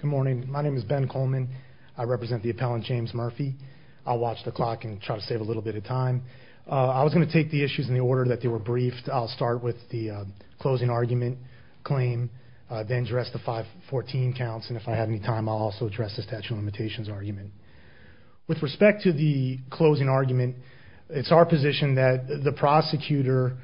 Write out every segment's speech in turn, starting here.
Good morning my name is Ben Coleman. I represent the appellant James Murphy I watch the clock and try to save a little bit of time- I was gonna take the issues in the order that they were briefed I'll start with the- closing argument. Claim I've been dressed the five fourteen counts and if I have any time also address the statute of limitations argument. With respect to the closing argument it's our position that the prosecutor-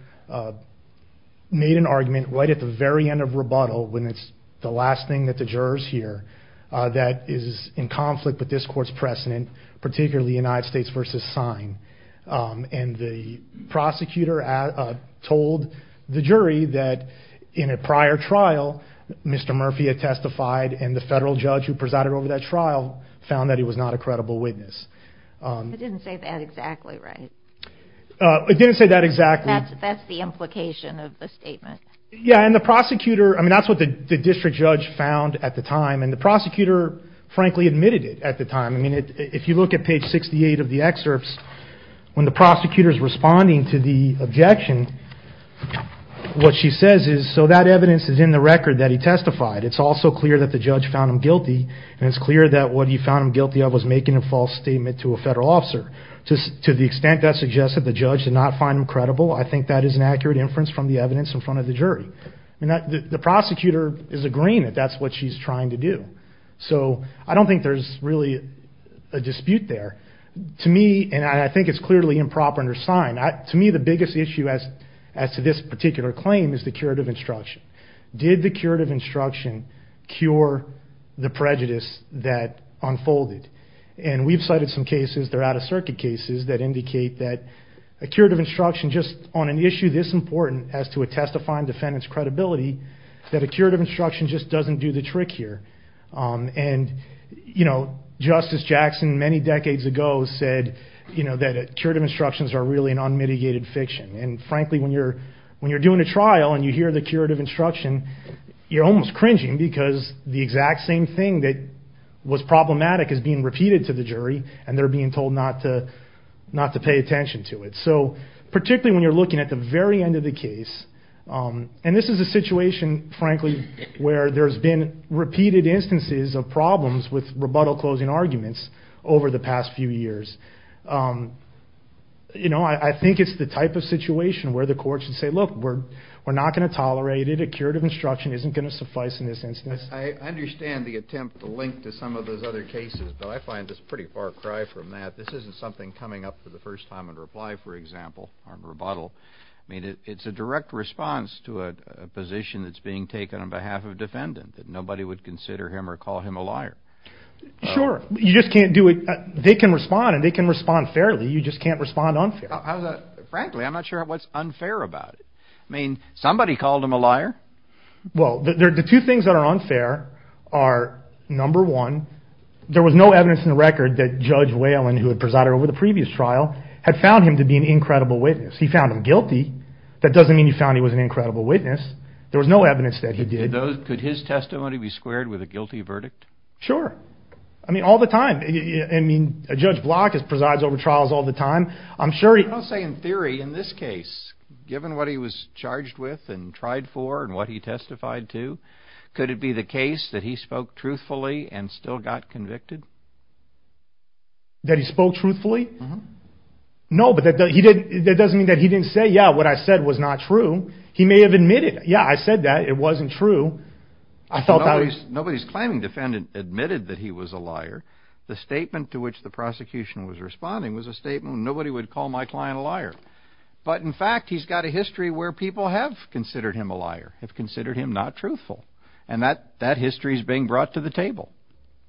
made an argument right at the very end of rebuttal when it's the last thing that the jurors here- that is in conflict with this court's precedent particularly United States versus sign- and the prosecutor at a told the jury that. In a prior trial Mr Murphy a testified in the federal judge who presided over that trial found that he was not a credible witness- didn't say that exactly right- it didn't say that exactly that's that's the implication of the statement yeah and the prosecutor I mean that's what the district judge found at the time and the prosecutor frankly admitted it at the time I mean it if you look at page sixty eight of the excerpts. When the prosecutors responding to the objection. What she says is so that evidence is in the record that he testified it's also clear that the judge found him guilty it's clear that what he found guilty of was making a false statement to a federal officer. To the extent that suggested the judge did not find him credible I think that is an accurate inference from the evidence in front of the jury. And that the prosecutor is agreeing that that's what she's trying to do. So I don't think there's really. A dispute there. To me and I think it's clearly improper under sign not to me the biggest issue as. As to this particular claim is the curative instruction. Did the curative instruction. Cure the prejudice that unfolded. And that's what I'm trying to explain to you. Is that we've cited some cases they're out of circuit cases that indicate that. A curative instruction just on an issue this important as to a testifying defendants credibility. That a curative instruction just doesn't do the trick here- and- you know justice Jackson many decades ago said. You know that it curative instructions are really an unmitigated fiction and frankly when you're- when you're doing a trial and you hear the curative instruction. You're almost cringing because it's just the exact same thing that. Was problematic is being repeated to the jury and they're being told not to. Not to pay attention to it so particularly when you're looking at the very end of the case- and this is a situation frankly where there's been repeated instances of problems with rebuttal closing arguments. Over the past few years- you know I think it's the type of situation where the court should say look we're- we're not going to tolerate it a curative instruction isn't going to suffice in this instance. I understand the attempt to link to some of those other cases but I find this pretty far cry from that this isn't something coming up for the first time in reply for example on rebuttal. I mean it it's a direct response to a position that's being taken on behalf of defendant that nobody would consider him or call him a liar. Sure you just can't do it they can respond and they can respond fairly you just can't respond unfairly. How's that frankly I'm not sure what's unfair about it I mean somebody called him a liar. Well the two things that are unfair are number one there was no evidence in the record that judge Wayland who had presided over the previous trial had found him to be an incredible witness he found him guilty that doesn't mean he found he was an incredible witness there was no evidence that he did. Could his testimony be squared with a guilty verdict? Sure I mean all the time I mean a judge block is presides over trials all the time I'm sure. I'll say in theory in this case given what he was charged with and tried for and what he testified to could it be the case that he spoke truthfully and still got convicted? That he spoke truthfully? No but that doesn't mean that he didn't say yeah what I said was not true he may have admitted yeah I said that it wasn't true. I felt nobody's claiming defendant admitted that he was a liar the statement to which the prosecution was responding was a statement nobody would call my client a liar but in fact he's got a history where people have considered him a liar have considered him not truthful and that that history is being brought to the table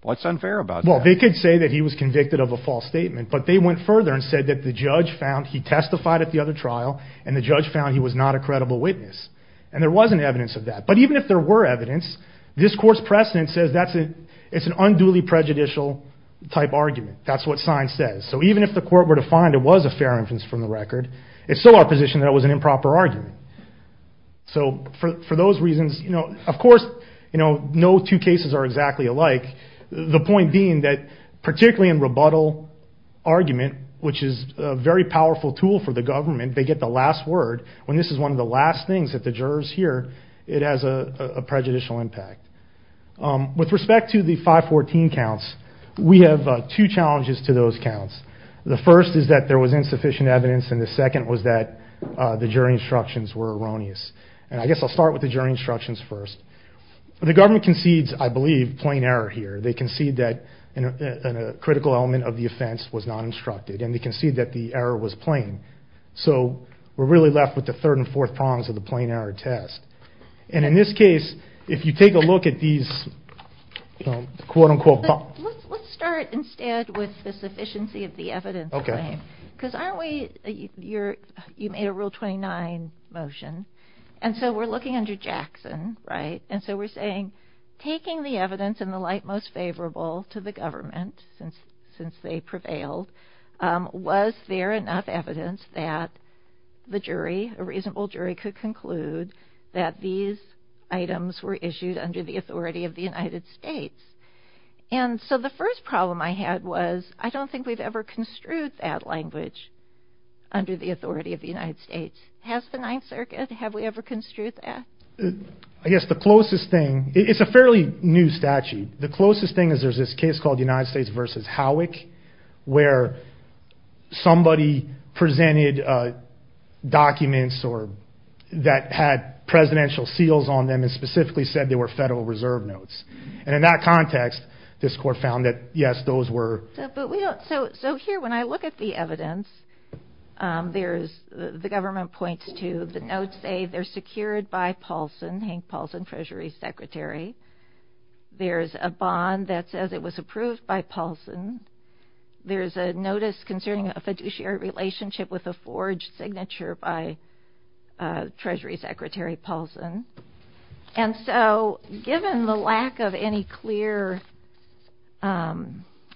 what's unfair about that? Well they could say that he was convicted of a false statement but they went further and said that the judge found he testified at the other trial and the judge found he was not a credible witness and there wasn't evidence of that but even if there were evidence this court's precedent says that's it it's an unduly prejudicial type argument that's what sign says so even if the court were to find it was a fair inference from the record it's still our position that it was an improper argument so for those reasons you know of course you know no two cases are exactly alike the point being that particularly in rebuttal argument which is a very powerful tool for the government they get the last word when this is one of the last things that the jurors hear it has a prejudicial impact with respect to the 514 counts we have two challenges to those counts the first is that there was insufficient evidence and the second was that the jury instructions were erroneous and I guess I'll start with the jury instructions first the government concedes I believe plain error here they concede that in a critical element of the offense was not instructed and they concede that the error was plain so we're really left with the third and fourth prongs of the plain error test and in this case if you take a look at these quote unquote let's start instead with the sufficiency of the evidence okay because aren't we you're you made a rule 29 motion and so we're looking under Jackson right and so we're saying taking the evidence in the light most favorable to the government since since they prevailed was there enough evidence that the jury a reasonable jury could conclude that these items were issued under the authority of the United States and so the first problem I had was I don't think we've ever construed that in the United States that the items were issued under the authority of the United States has the Ninth Circuit have we ever construed that. I guess the closest thing it's a fairly new statute the closest thing is there's this case called United States versus how which where. Somebody presented- documents or that had presidential seals on them is specifically said they were federal reserve notes and in that context this court found that yes those were but we don't so so here when I look at the evidence- there's the government points to the notes a they're secured by Paulson Hank Paulson treasury secretary. There is a bond that says it was approved by Paulson there is a notice concerning a fiduciary relationship with a forged signature by- treasury secretary Paulson and so given the lack of any clear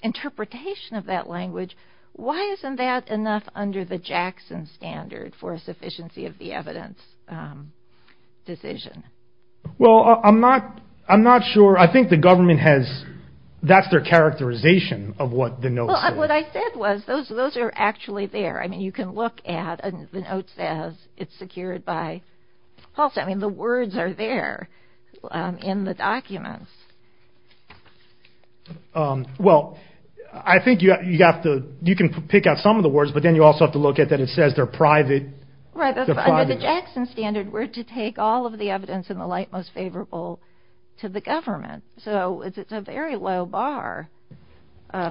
interpretation of that language why isn't that enough under the Jackson standard for a sufficiency of the evidence decision. Well I'm not I'm not sure I think the government has that's their characterization of what the note what I said was those those are actually there I mean you can look at the notes as it's secured by Paulson I mean the words are there in the documents. Well I think you have to you can pick out some of the words but then you also have to look at that it says they're private. Right under the Jackson standard we're to take all of the evidence in the light most favorable to the government so it's it's a very low bar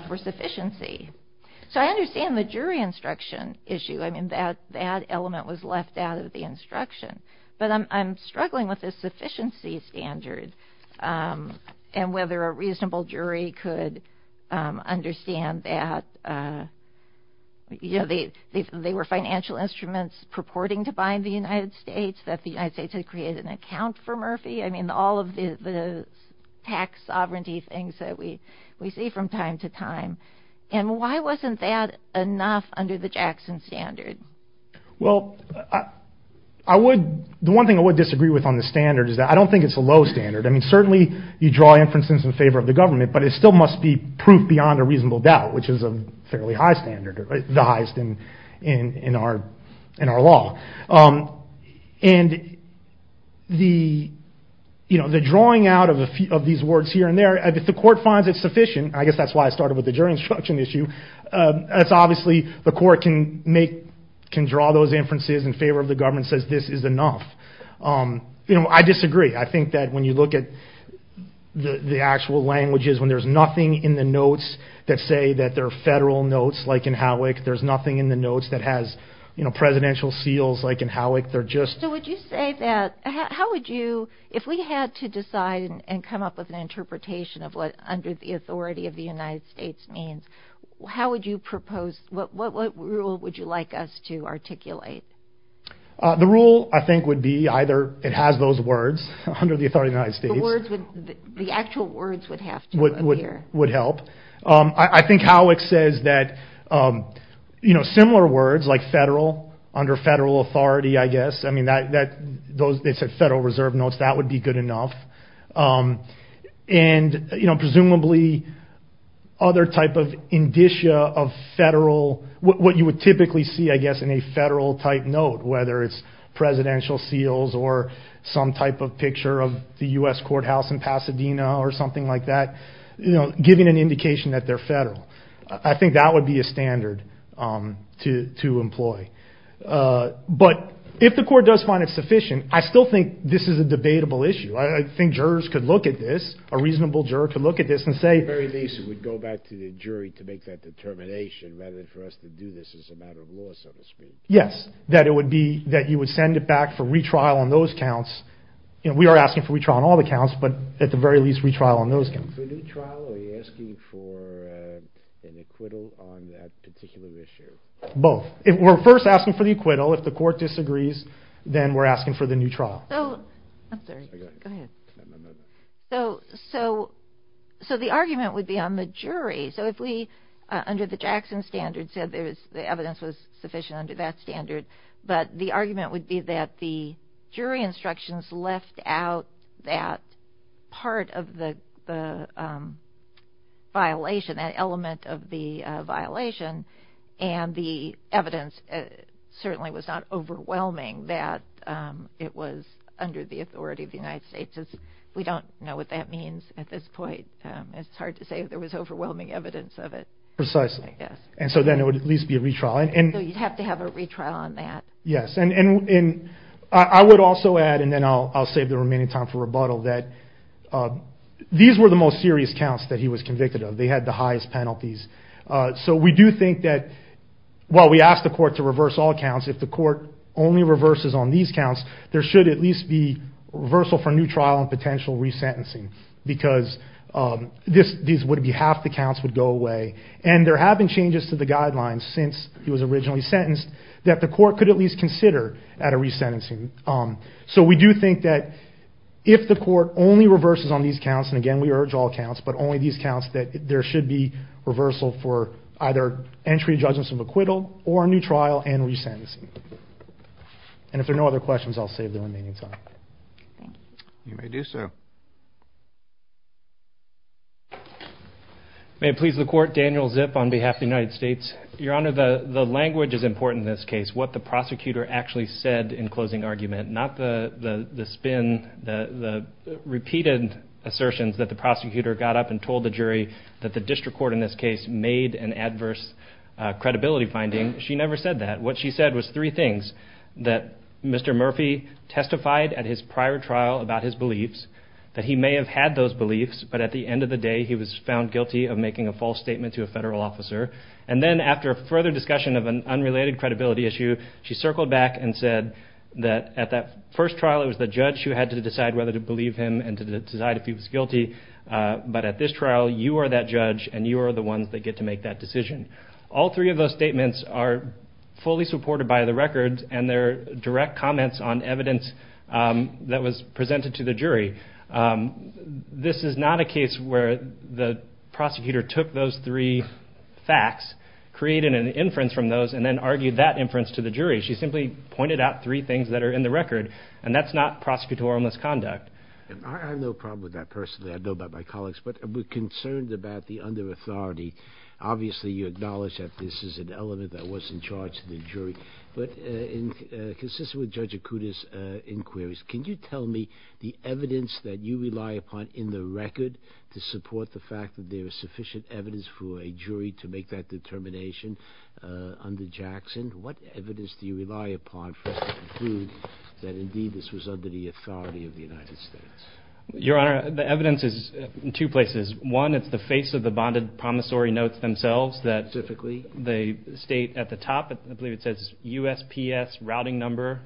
for sufficiency so I understand the jury instruction issue I mean that that element was left out of the instruction but I'm I'm struggling with this sufficiency standard and whether a reasonable jury could understand that you know they they they were financial instruments purporting to bind the United States that the United States had created an account for Murphy I mean all of the the tax sovereignty things that we we see from time to time and why wasn't that enough under the Jackson standard. Well I would the one thing I would disagree with on the standard is that I don't think it's a low standard I mean certainly you draw inferences in favor of the government but it still must be proof beyond a reasonable doubt which is a fairly high standard or the highest in in in our in our law and the you know the drawing out of a few of these words here and there if the court finds it sufficient I guess that's why I started with the jury instruction issue that's obviously the court can make can draw those inferences in favor of the government says this is enough. You know I disagree. I think that when you look at the actual languages when there's nothing in the notes that say that there are federal notes like in Howick there's nothing in the notes that has you know presidential seals like in Howick they're just. So would you say that how would you if we had to decide and come up with an interpretation of what under the authority of the United States means how would you propose what what rule would you like us to articulate. The rule I think would be either it has those words under the authority of the United States. The words would the actual words would have to be here. Would help. I think Howick says that you know similar words like federal under federal authority I guess I mean that that those they said federal reserve notes that would be good enough. And you know presumably other type of indicia of federal what you would typically see I guess in a federal type note whether it's presidential seals or some type of picture of the U.S. courthouse in Pasadena or something like that. You know giving an indication that they're federal. I think that would be a standard to to employ. But if the court does find it sufficient I still think this is a debatable issue. I think jurors could look at this a reasonable juror could look at this and say very least it would go back to the jury to make that determination rather than for us to do this as a jury. Yes that it would be that you would send it back for retrial on those counts. You know we are asking for retrial on all the counts but at the very least retrial on those counts. For a new trial are you asking for an acquittal on that particular issue? Both. If we're first asking for the acquittal if the court disagrees then we're asking for the new trial. So so so the argument would be on the jury. So if we under the Jackson standard said there is the evidence was sufficient under that standard. But the argument would be that the jury instructions left out that part of the violation that element of the violation and the evidence certainly was not overwhelming that it was under the authority of the United States. We don't know what that means at this point. It's hard to say if there was overwhelming evidence of it. Precisely. Yes. And so then it would at least be a retrial. And you'd have to have a retrial on that. Yes. And I would also add and then I'll save the remaining time for rebuttal that these were the most serious counts that he was convicted of. They had the highest penalties. So we do think that while we asked the court to reverse all counts if the court only reverses on these counts there should at least be reversal for a new trial and potential resentencing because this these would be half the counts would go away. And there have been changes to the guidelines since he was originally sentenced that the court could at least consider at a resentencing. So we do think that if the court only reverses on these counts and again we urge all counts but only these counts that there should be reversal for either entry judgments of acquittal or a new trial and resentencing. And if there are no other questions I'll save the remaining time. You may do so. May it please the court. Daniel Zip on behalf of the United States. Your Honor the language is important in this case what the prosecutor actually said in closing argument not the spin the repeated assertions that the prosecutor got up and told the jury that the district court in this case made an adverse credibility finding. She never said that. What she said was three things that Mr. Murphy testified at his prior trial about his beliefs that he may have had those beliefs but at the end of the day he was found guilty of making a false statement to a federal officer and then after a further discussion of an unrelated credibility issue she circled back and said that at that first trial it was the judge who had to decide whether to believe him and to decide if he was guilty. But at this trial you are that judge and you are the ones that get to make that decision. All three of those statements are fully supported by the records and their direct comments on evidence that was presented to the jury. This is not a case where the prosecutor took those three facts created an inference from those and then argued that inference to the jury. She simply pointed out three things that are in the record and that's not prosecutorial misconduct. I have no problem with that personally. I know about my colleagues but I'm concerned about the under-authority. Obviously you acknowledge that this is an element that was in charge of the jury but consistent with Judge Akuta's inquiries can you tell me the evidence that you rely upon in the record to support the fact that there is sufficient evidence for a jury to make that determination under Jackson? What evidence do you rely upon to prove that indeed this was under the authority of the United States? Your Honor, the evidence is in two places. One, it's the face of the bonded promissory notes themselves that they state at the top, I believe it says USPS routing number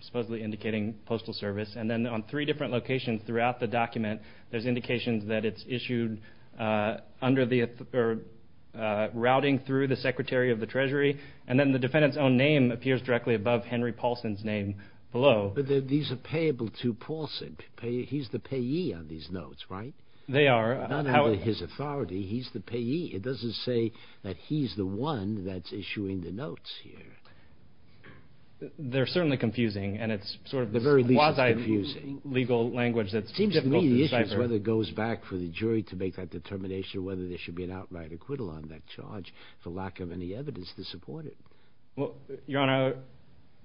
supposedly indicating postal service. And then on three different locations throughout the document there's indications that it's issued under the routing through the Secretary of the Treasury and then the defendant's own name appears directly above Henry Paulson's name below. But these are payable to Paulson. He's the payee on these notes, right? They are. Not under his authority, he's the payee. It doesn't say that he's the one that's issuing the notes here. They're certainly confusing and it's sort of a quasi legal language that's difficult to understand. And it goes back for the jury to make that determination whether there should be an outright acquittal on that charge for lack of any evidence to support it. Your Honor,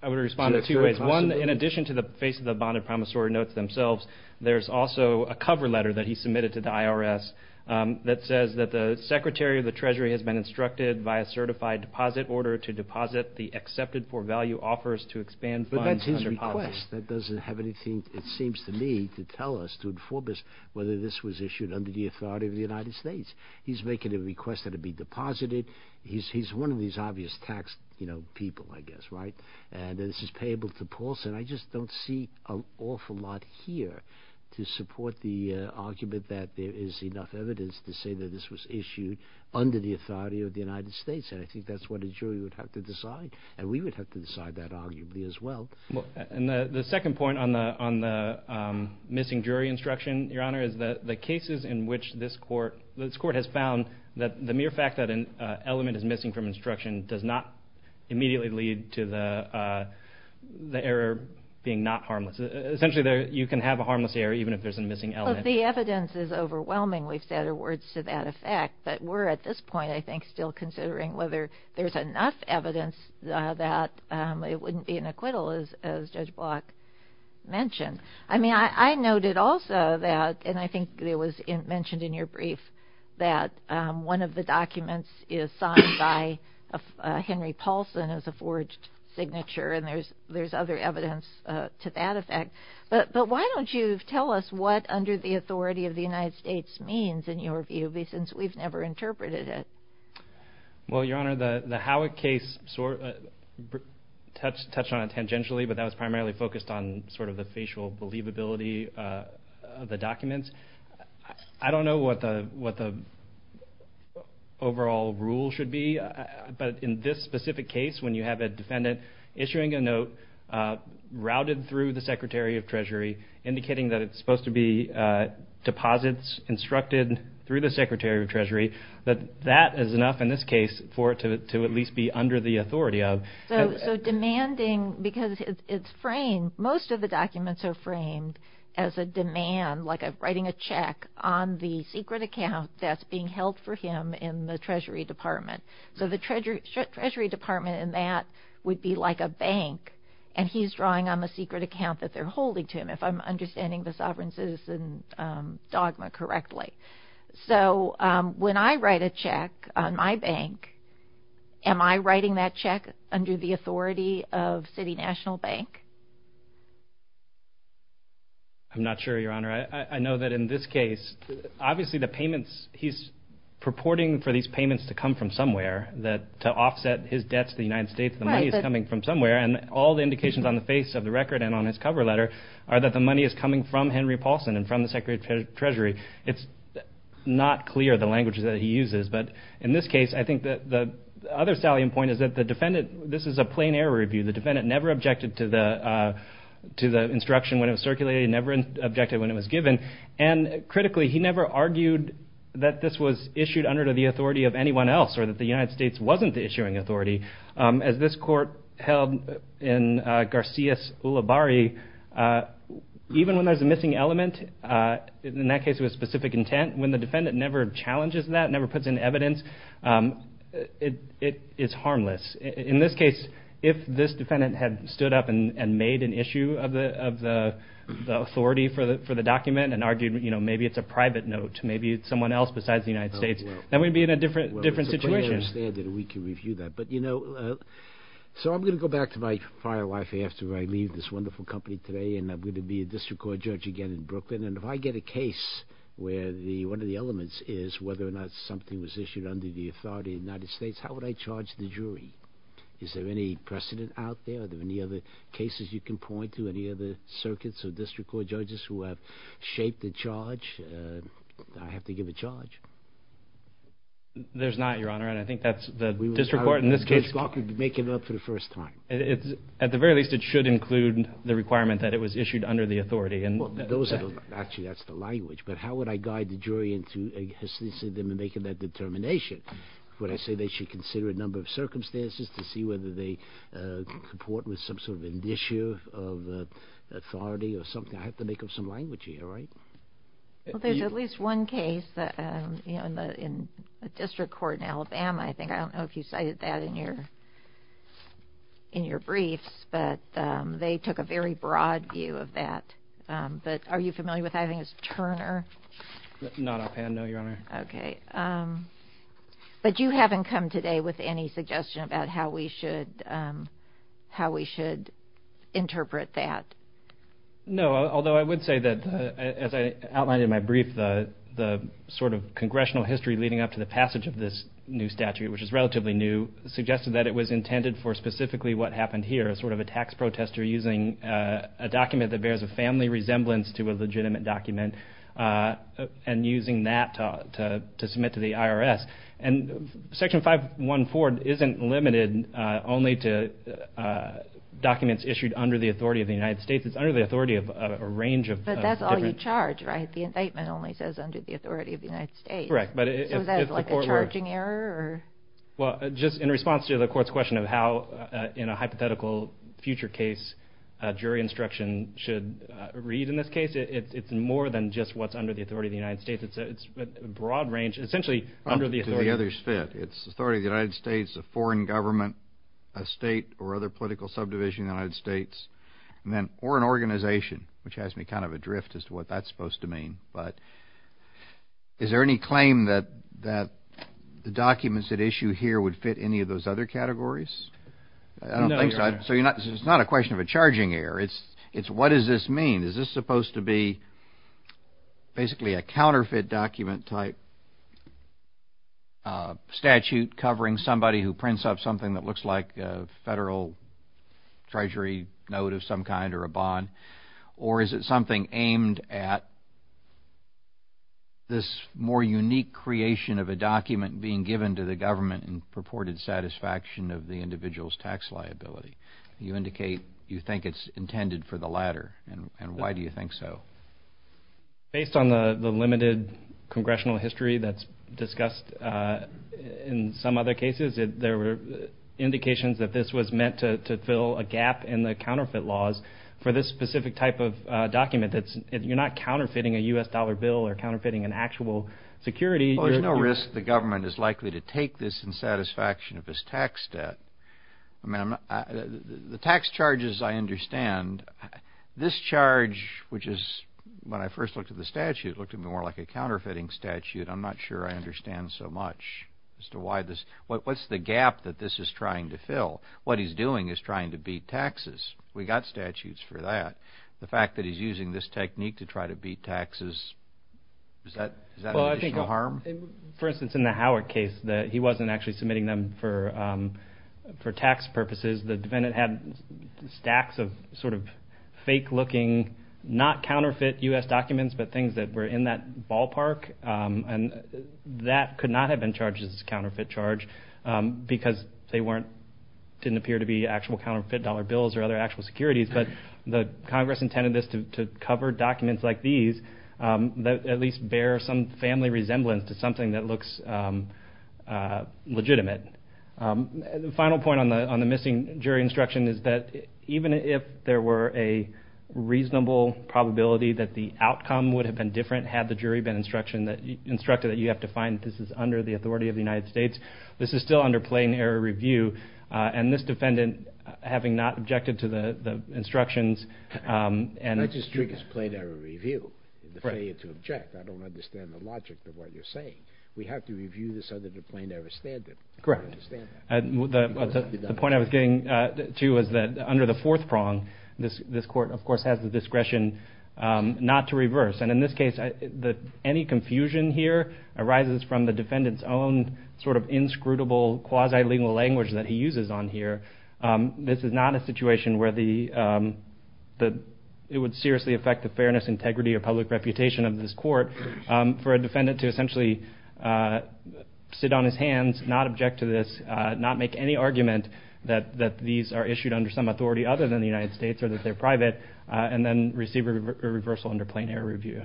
I would respond in two ways. One, in addition to the face of the bonded promissory notes themselves, there's also a cover letter that he submitted to the IRS that says that the Secretary of the Treasury has been instructed by a certified deposit order to deposit the accepted for value offers to expand funds. But that's his request. That doesn't have anything, it seems to me, to tell us, to inform us whether this was issued under the authority of the United States. He's making a request that it be deposited. He's one of these obvious tax, you know, people I guess, right? And this is payable to Paulson. I just don't see an awful lot here to support the argument that there is enough evidence to say that this was issued under the authority of the United States. And I think that's what a jury would have to decide. And we would have to decide that arguably as well. Well, and the second point on the missing jury instruction, Your Honor, is that the cases in which this court has found that the mere fact that an element is missing from instruction does not immediately lead to the error being not harmless. Essentially, you can have a harmless error even if there's a missing element. Well, the evidence is overwhelming, we've said, or words to that effect. But we're at this point, I think, still considering whether there's enough evidence that it wouldn't be an acquittal, as Judge Block mentioned. I mean, I noted also that, and I think it was mentioned in your brief, that one of the documents is signed by Henry Paulson as a forged signature, and there's other evidence to that effect. But why don't you tell us what, under the authority of the United States, means, in your view, since we've never interpreted it? Well, Your Honor, the Howick case, touched on it tangentially, but that was primarily focused on sort of the facial believability of the documents. I don't know what the overall rule should be, but in this specific case, when you have a defendant issuing a note routed through the Secretary of Treasury, indicating that it's supposed to be deposits instructed through the Secretary of Treasury, that that is enough in this case for it to at least be under the authority of. So demanding, because it's framed, most of the documents are framed as a demand, like writing a check on the secret account that's being held for him in the Treasury Department. So the Treasury Department in that would be like a bank, and he's drawing on the secret account that they're holding to him, if I'm understanding the sovereign citizen dogma correctly. So when I write a check on my bank, am I writing that check under the authority of City National Bank? I'm not sure, Your Honor. I know that in this case, obviously the payments, he's purporting for these payments to come from somewhere, to offset his debts to the United States. The money is coming from somewhere, and all the indications on the face of the record and on his cover letter are that the money is coming from Henry Paulson and from the Secretary of Treasury. It's not clear the language that he uses, but in this case, I think that the other salient point is that the defendant, this is a plain error review. The defendant never objected to the instruction when it was circulated, never objected when it was given, and critically, he never argued that this was issued under the authority of anyone else, or that the United States wasn't the issuing authority. As this court held in Garcia's Ulibarri, even when there's a missing element, in that case it was specific intent, when the defendant never challenges that, never puts in this case, if this defendant had stood up and made an issue of the authority for the document, and argued maybe it's a private note to maybe someone else besides the United States, that would be in a different situation. It's a plain error standard, we can review that. I'm going to go back to my firewife after I leave this wonderful company today, and I'm going to be a district court judge again in Brooklyn, and if I get a case where one of the elements is whether or not something was issued under the authority of the United States, how would I judge that? Is there any precedent out there? Are there any other cases you can point to? Any other circuits or district court judges who have shaped the charge? I have to give a charge. There's not, Your Honor, and I think that's the district court in this case... We would have Judge Gawker make it up for the first time. At the very least, it should include the requirement that it was issued under the authority, and... Well, actually that's the language, but how would I guide the jury into making that determination? Would I say they should consider a number of things, whether they comport with some sort of an issue of the authority or something? I have to make up some language here, right? Well, there's at least one case that, you know, in the district court in Alabama, I think. I don't know if you cited that in your briefs, but they took a very broad view of that. But are you familiar with, I think it's Turner? Not up hand, no, Your Honor. Okay. But you haven't come today with any suggestion about how we should interpret that? No, although I would say that, as I outlined in my brief, the sort of congressional history leading up to the passage of this new statute, which is relatively new, suggested that it was intended for specifically what happened here, sort of a tax protester using a document that bears a family resemblance to a legitimate document, and using that to submit to the IRS. And Section 514 isn't limited only to documents issued under the authority of the United States. It's under the authority of a range of... But that's all you charge, right? The indictment only says under the authority of the United States. Correct. But if the court were... So is that like a charging error, or... Well, just in response to the court's question of how, in a hypothetical future case, jury instruction should read in this case, it's more than just what's under the authority of the United States. It's a broad range, essentially under the authority... Up to the other's fit. It's authority of the United States, a foreign government, a state or other political subdivision in the United States, or an organization, which has me kind of adrift as to what that's supposed to mean. But is there any claim that the documents that issue here would fit any of those other categories? I don't think so. So it's not a question of a charging error. It's what does this mean? Is this supposed to be basically a counterfeit document-type statute covering somebody who prints up something that looks like a federal treasury note of some kind, or a bond? Or is it something aimed at this more unique creation of a document being given to the government in purported satisfaction of the individual's tax liability? You indicate you think it's intended for the latter, and why do you think so? Based on the limited congressional history that's in place, there were indications that this was meant to fill a gap in the counterfeit laws for this specific type of document, that you're not counterfeiting a U.S. dollar bill or counterfeiting an actual security. Well, there's no risk the government is likely to take this in satisfaction of its tax debt. The tax charges I understand. This charge, which is, when I first looked at the statute, looked at it more like a counterfeiting statute. I'm not sure I understand so much as what's the gap that this is trying to fill. What he's doing is trying to beat taxes. We got statutes for that. The fact that he's using this technique to try to beat taxes, is that additional harm? For instance, in the Howard case, he wasn't actually submitting them for tax purposes. The defendant had stacks of fake looking, not counterfeit U.S. documents, but things that were in that ballpark. That could not have been charged as a counterfeit charge because they weren't, didn't appear to be actual counterfeit dollar bills or other actual securities. The Congress intended this to cover documents like these that at least bear some family resemblance to something that looks legitimate. The final point on the missing jury instruction is that even if there were a reasonable probability that the outcome would have been different had the jury been instructed that you have to find this is under the authority of the United States, this is still under plain error review. This defendant, having not objected to the instructions... Not just plain error review, the failure to object. I don't understand the logic of what you're saying. We have to review this under the plain error standard. Correct. The point I was getting to is that under the fourth prong, this court, of course, has the discretion not to reverse. In this case, any confusion here arises from the defendant's own inscrutable quasi-legal language that he uses on here. This is not a situation where it would seriously affect the fairness, integrity, or public reputation of this court for a defendant to essentially sit on his hands, not object to this, not make any argument that these are issued under some authority other than the United States or that they're private, and then receive a reversal under plain error review.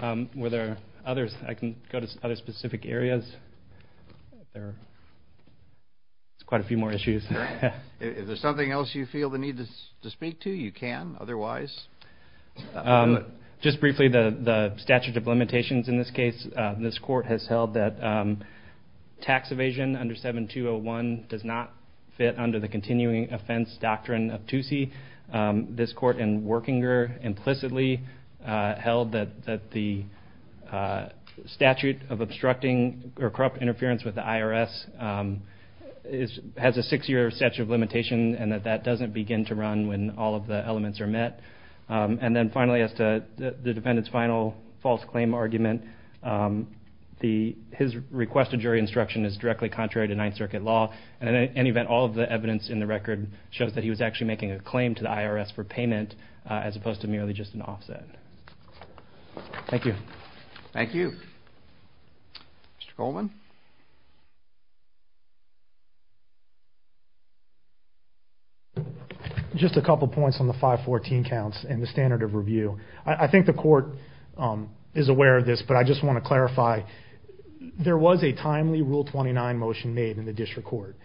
I can go to other specific areas. There's quite a few more issues. Is there something else you feel the need to speak to? You can otherwise. Just briefly, the statute of limitations in this case. This court has held that tax evasion under 7201 does not fit under the continuing offense doctrine of TUSI. This court in Workinger implicitly held that the statute of obstructing or corrupt interference with the IRS has a six-year statute of limitation, and that that doesn't begin to run when all of the elements are met. Then finally, as to the defendant's final false claim argument, his requested jury instruction is directly contrary to Ninth Circuit law. In any event, all of the evidence in the record shows that he was actually making a claim to the IRS for payment, as opposed to merely just an offset. Thank you. Thank you. Mr. Coleman? Just a couple of points on the 514 counts and the standard of review. I think the court is aware of this, but I just want to clarify. There was a timely Rule 29 motion made in the district court.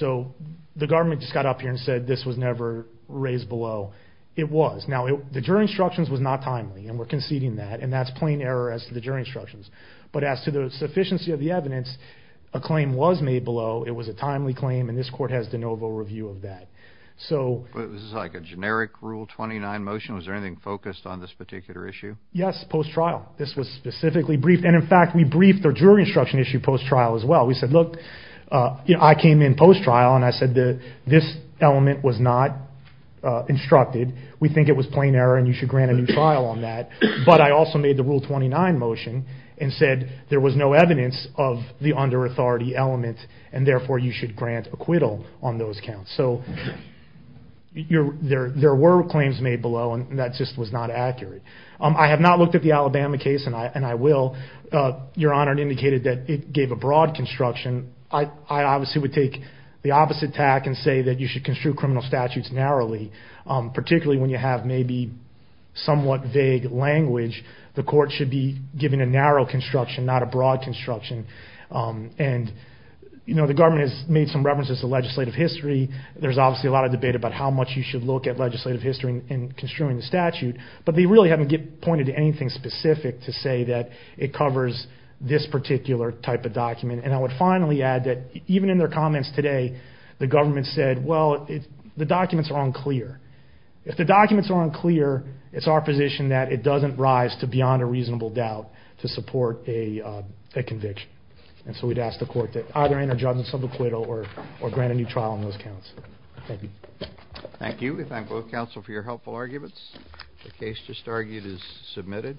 The government just got up here and said this was never raised below. It was. Now, the jury instructions was not timely, and we're conceding that, and that's plain error as to the jury instructions. But as to the sufficiency of the evidence, a claim was made below. It was a timely claim, and this court has de novo review of that. This is like a generic Rule 29 motion? Was there anything focused on this particular issue? Yes, post-trial. This was specifically briefed, and in fact, we briefed the jury instruction issue post-trial as well. We said, look, I came in and I said, this element was not instructed. We think it was plain error, and you should grant a new trial on that. But I also made the Rule 29 motion and said there was no evidence of the under-authority element, and therefore, you should grant acquittal on those counts. So there were claims made below, and that just was not accurate. I have not looked at the Alabama case, and I will. Your Honor indicated that it gave a broad construction. I obviously would take the opposite tack and say that you should construe criminal statutes narrowly, particularly when you have maybe somewhat vague language. The court should be giving a narrow construction, not a broad construction. The government has made some references to legislative history. There's obviously a lot of debate about how much you should look at legislative history in construing the statute, but they really haven't pointed to anything specific to say that it covers this particular type of document. I would finally add that even in their comments today, the government said, well, the documents are unclear. If the documents are unclear, it's our position that it doesn't rise to beyond a reasonable doubt to support a conviction. And so we'd ask the court to either enter judgment sub acquittal or grant a new trial on those counts. Thank you. Thank you. We thank both counsel for your helpful arguments. The case just argued is submitted.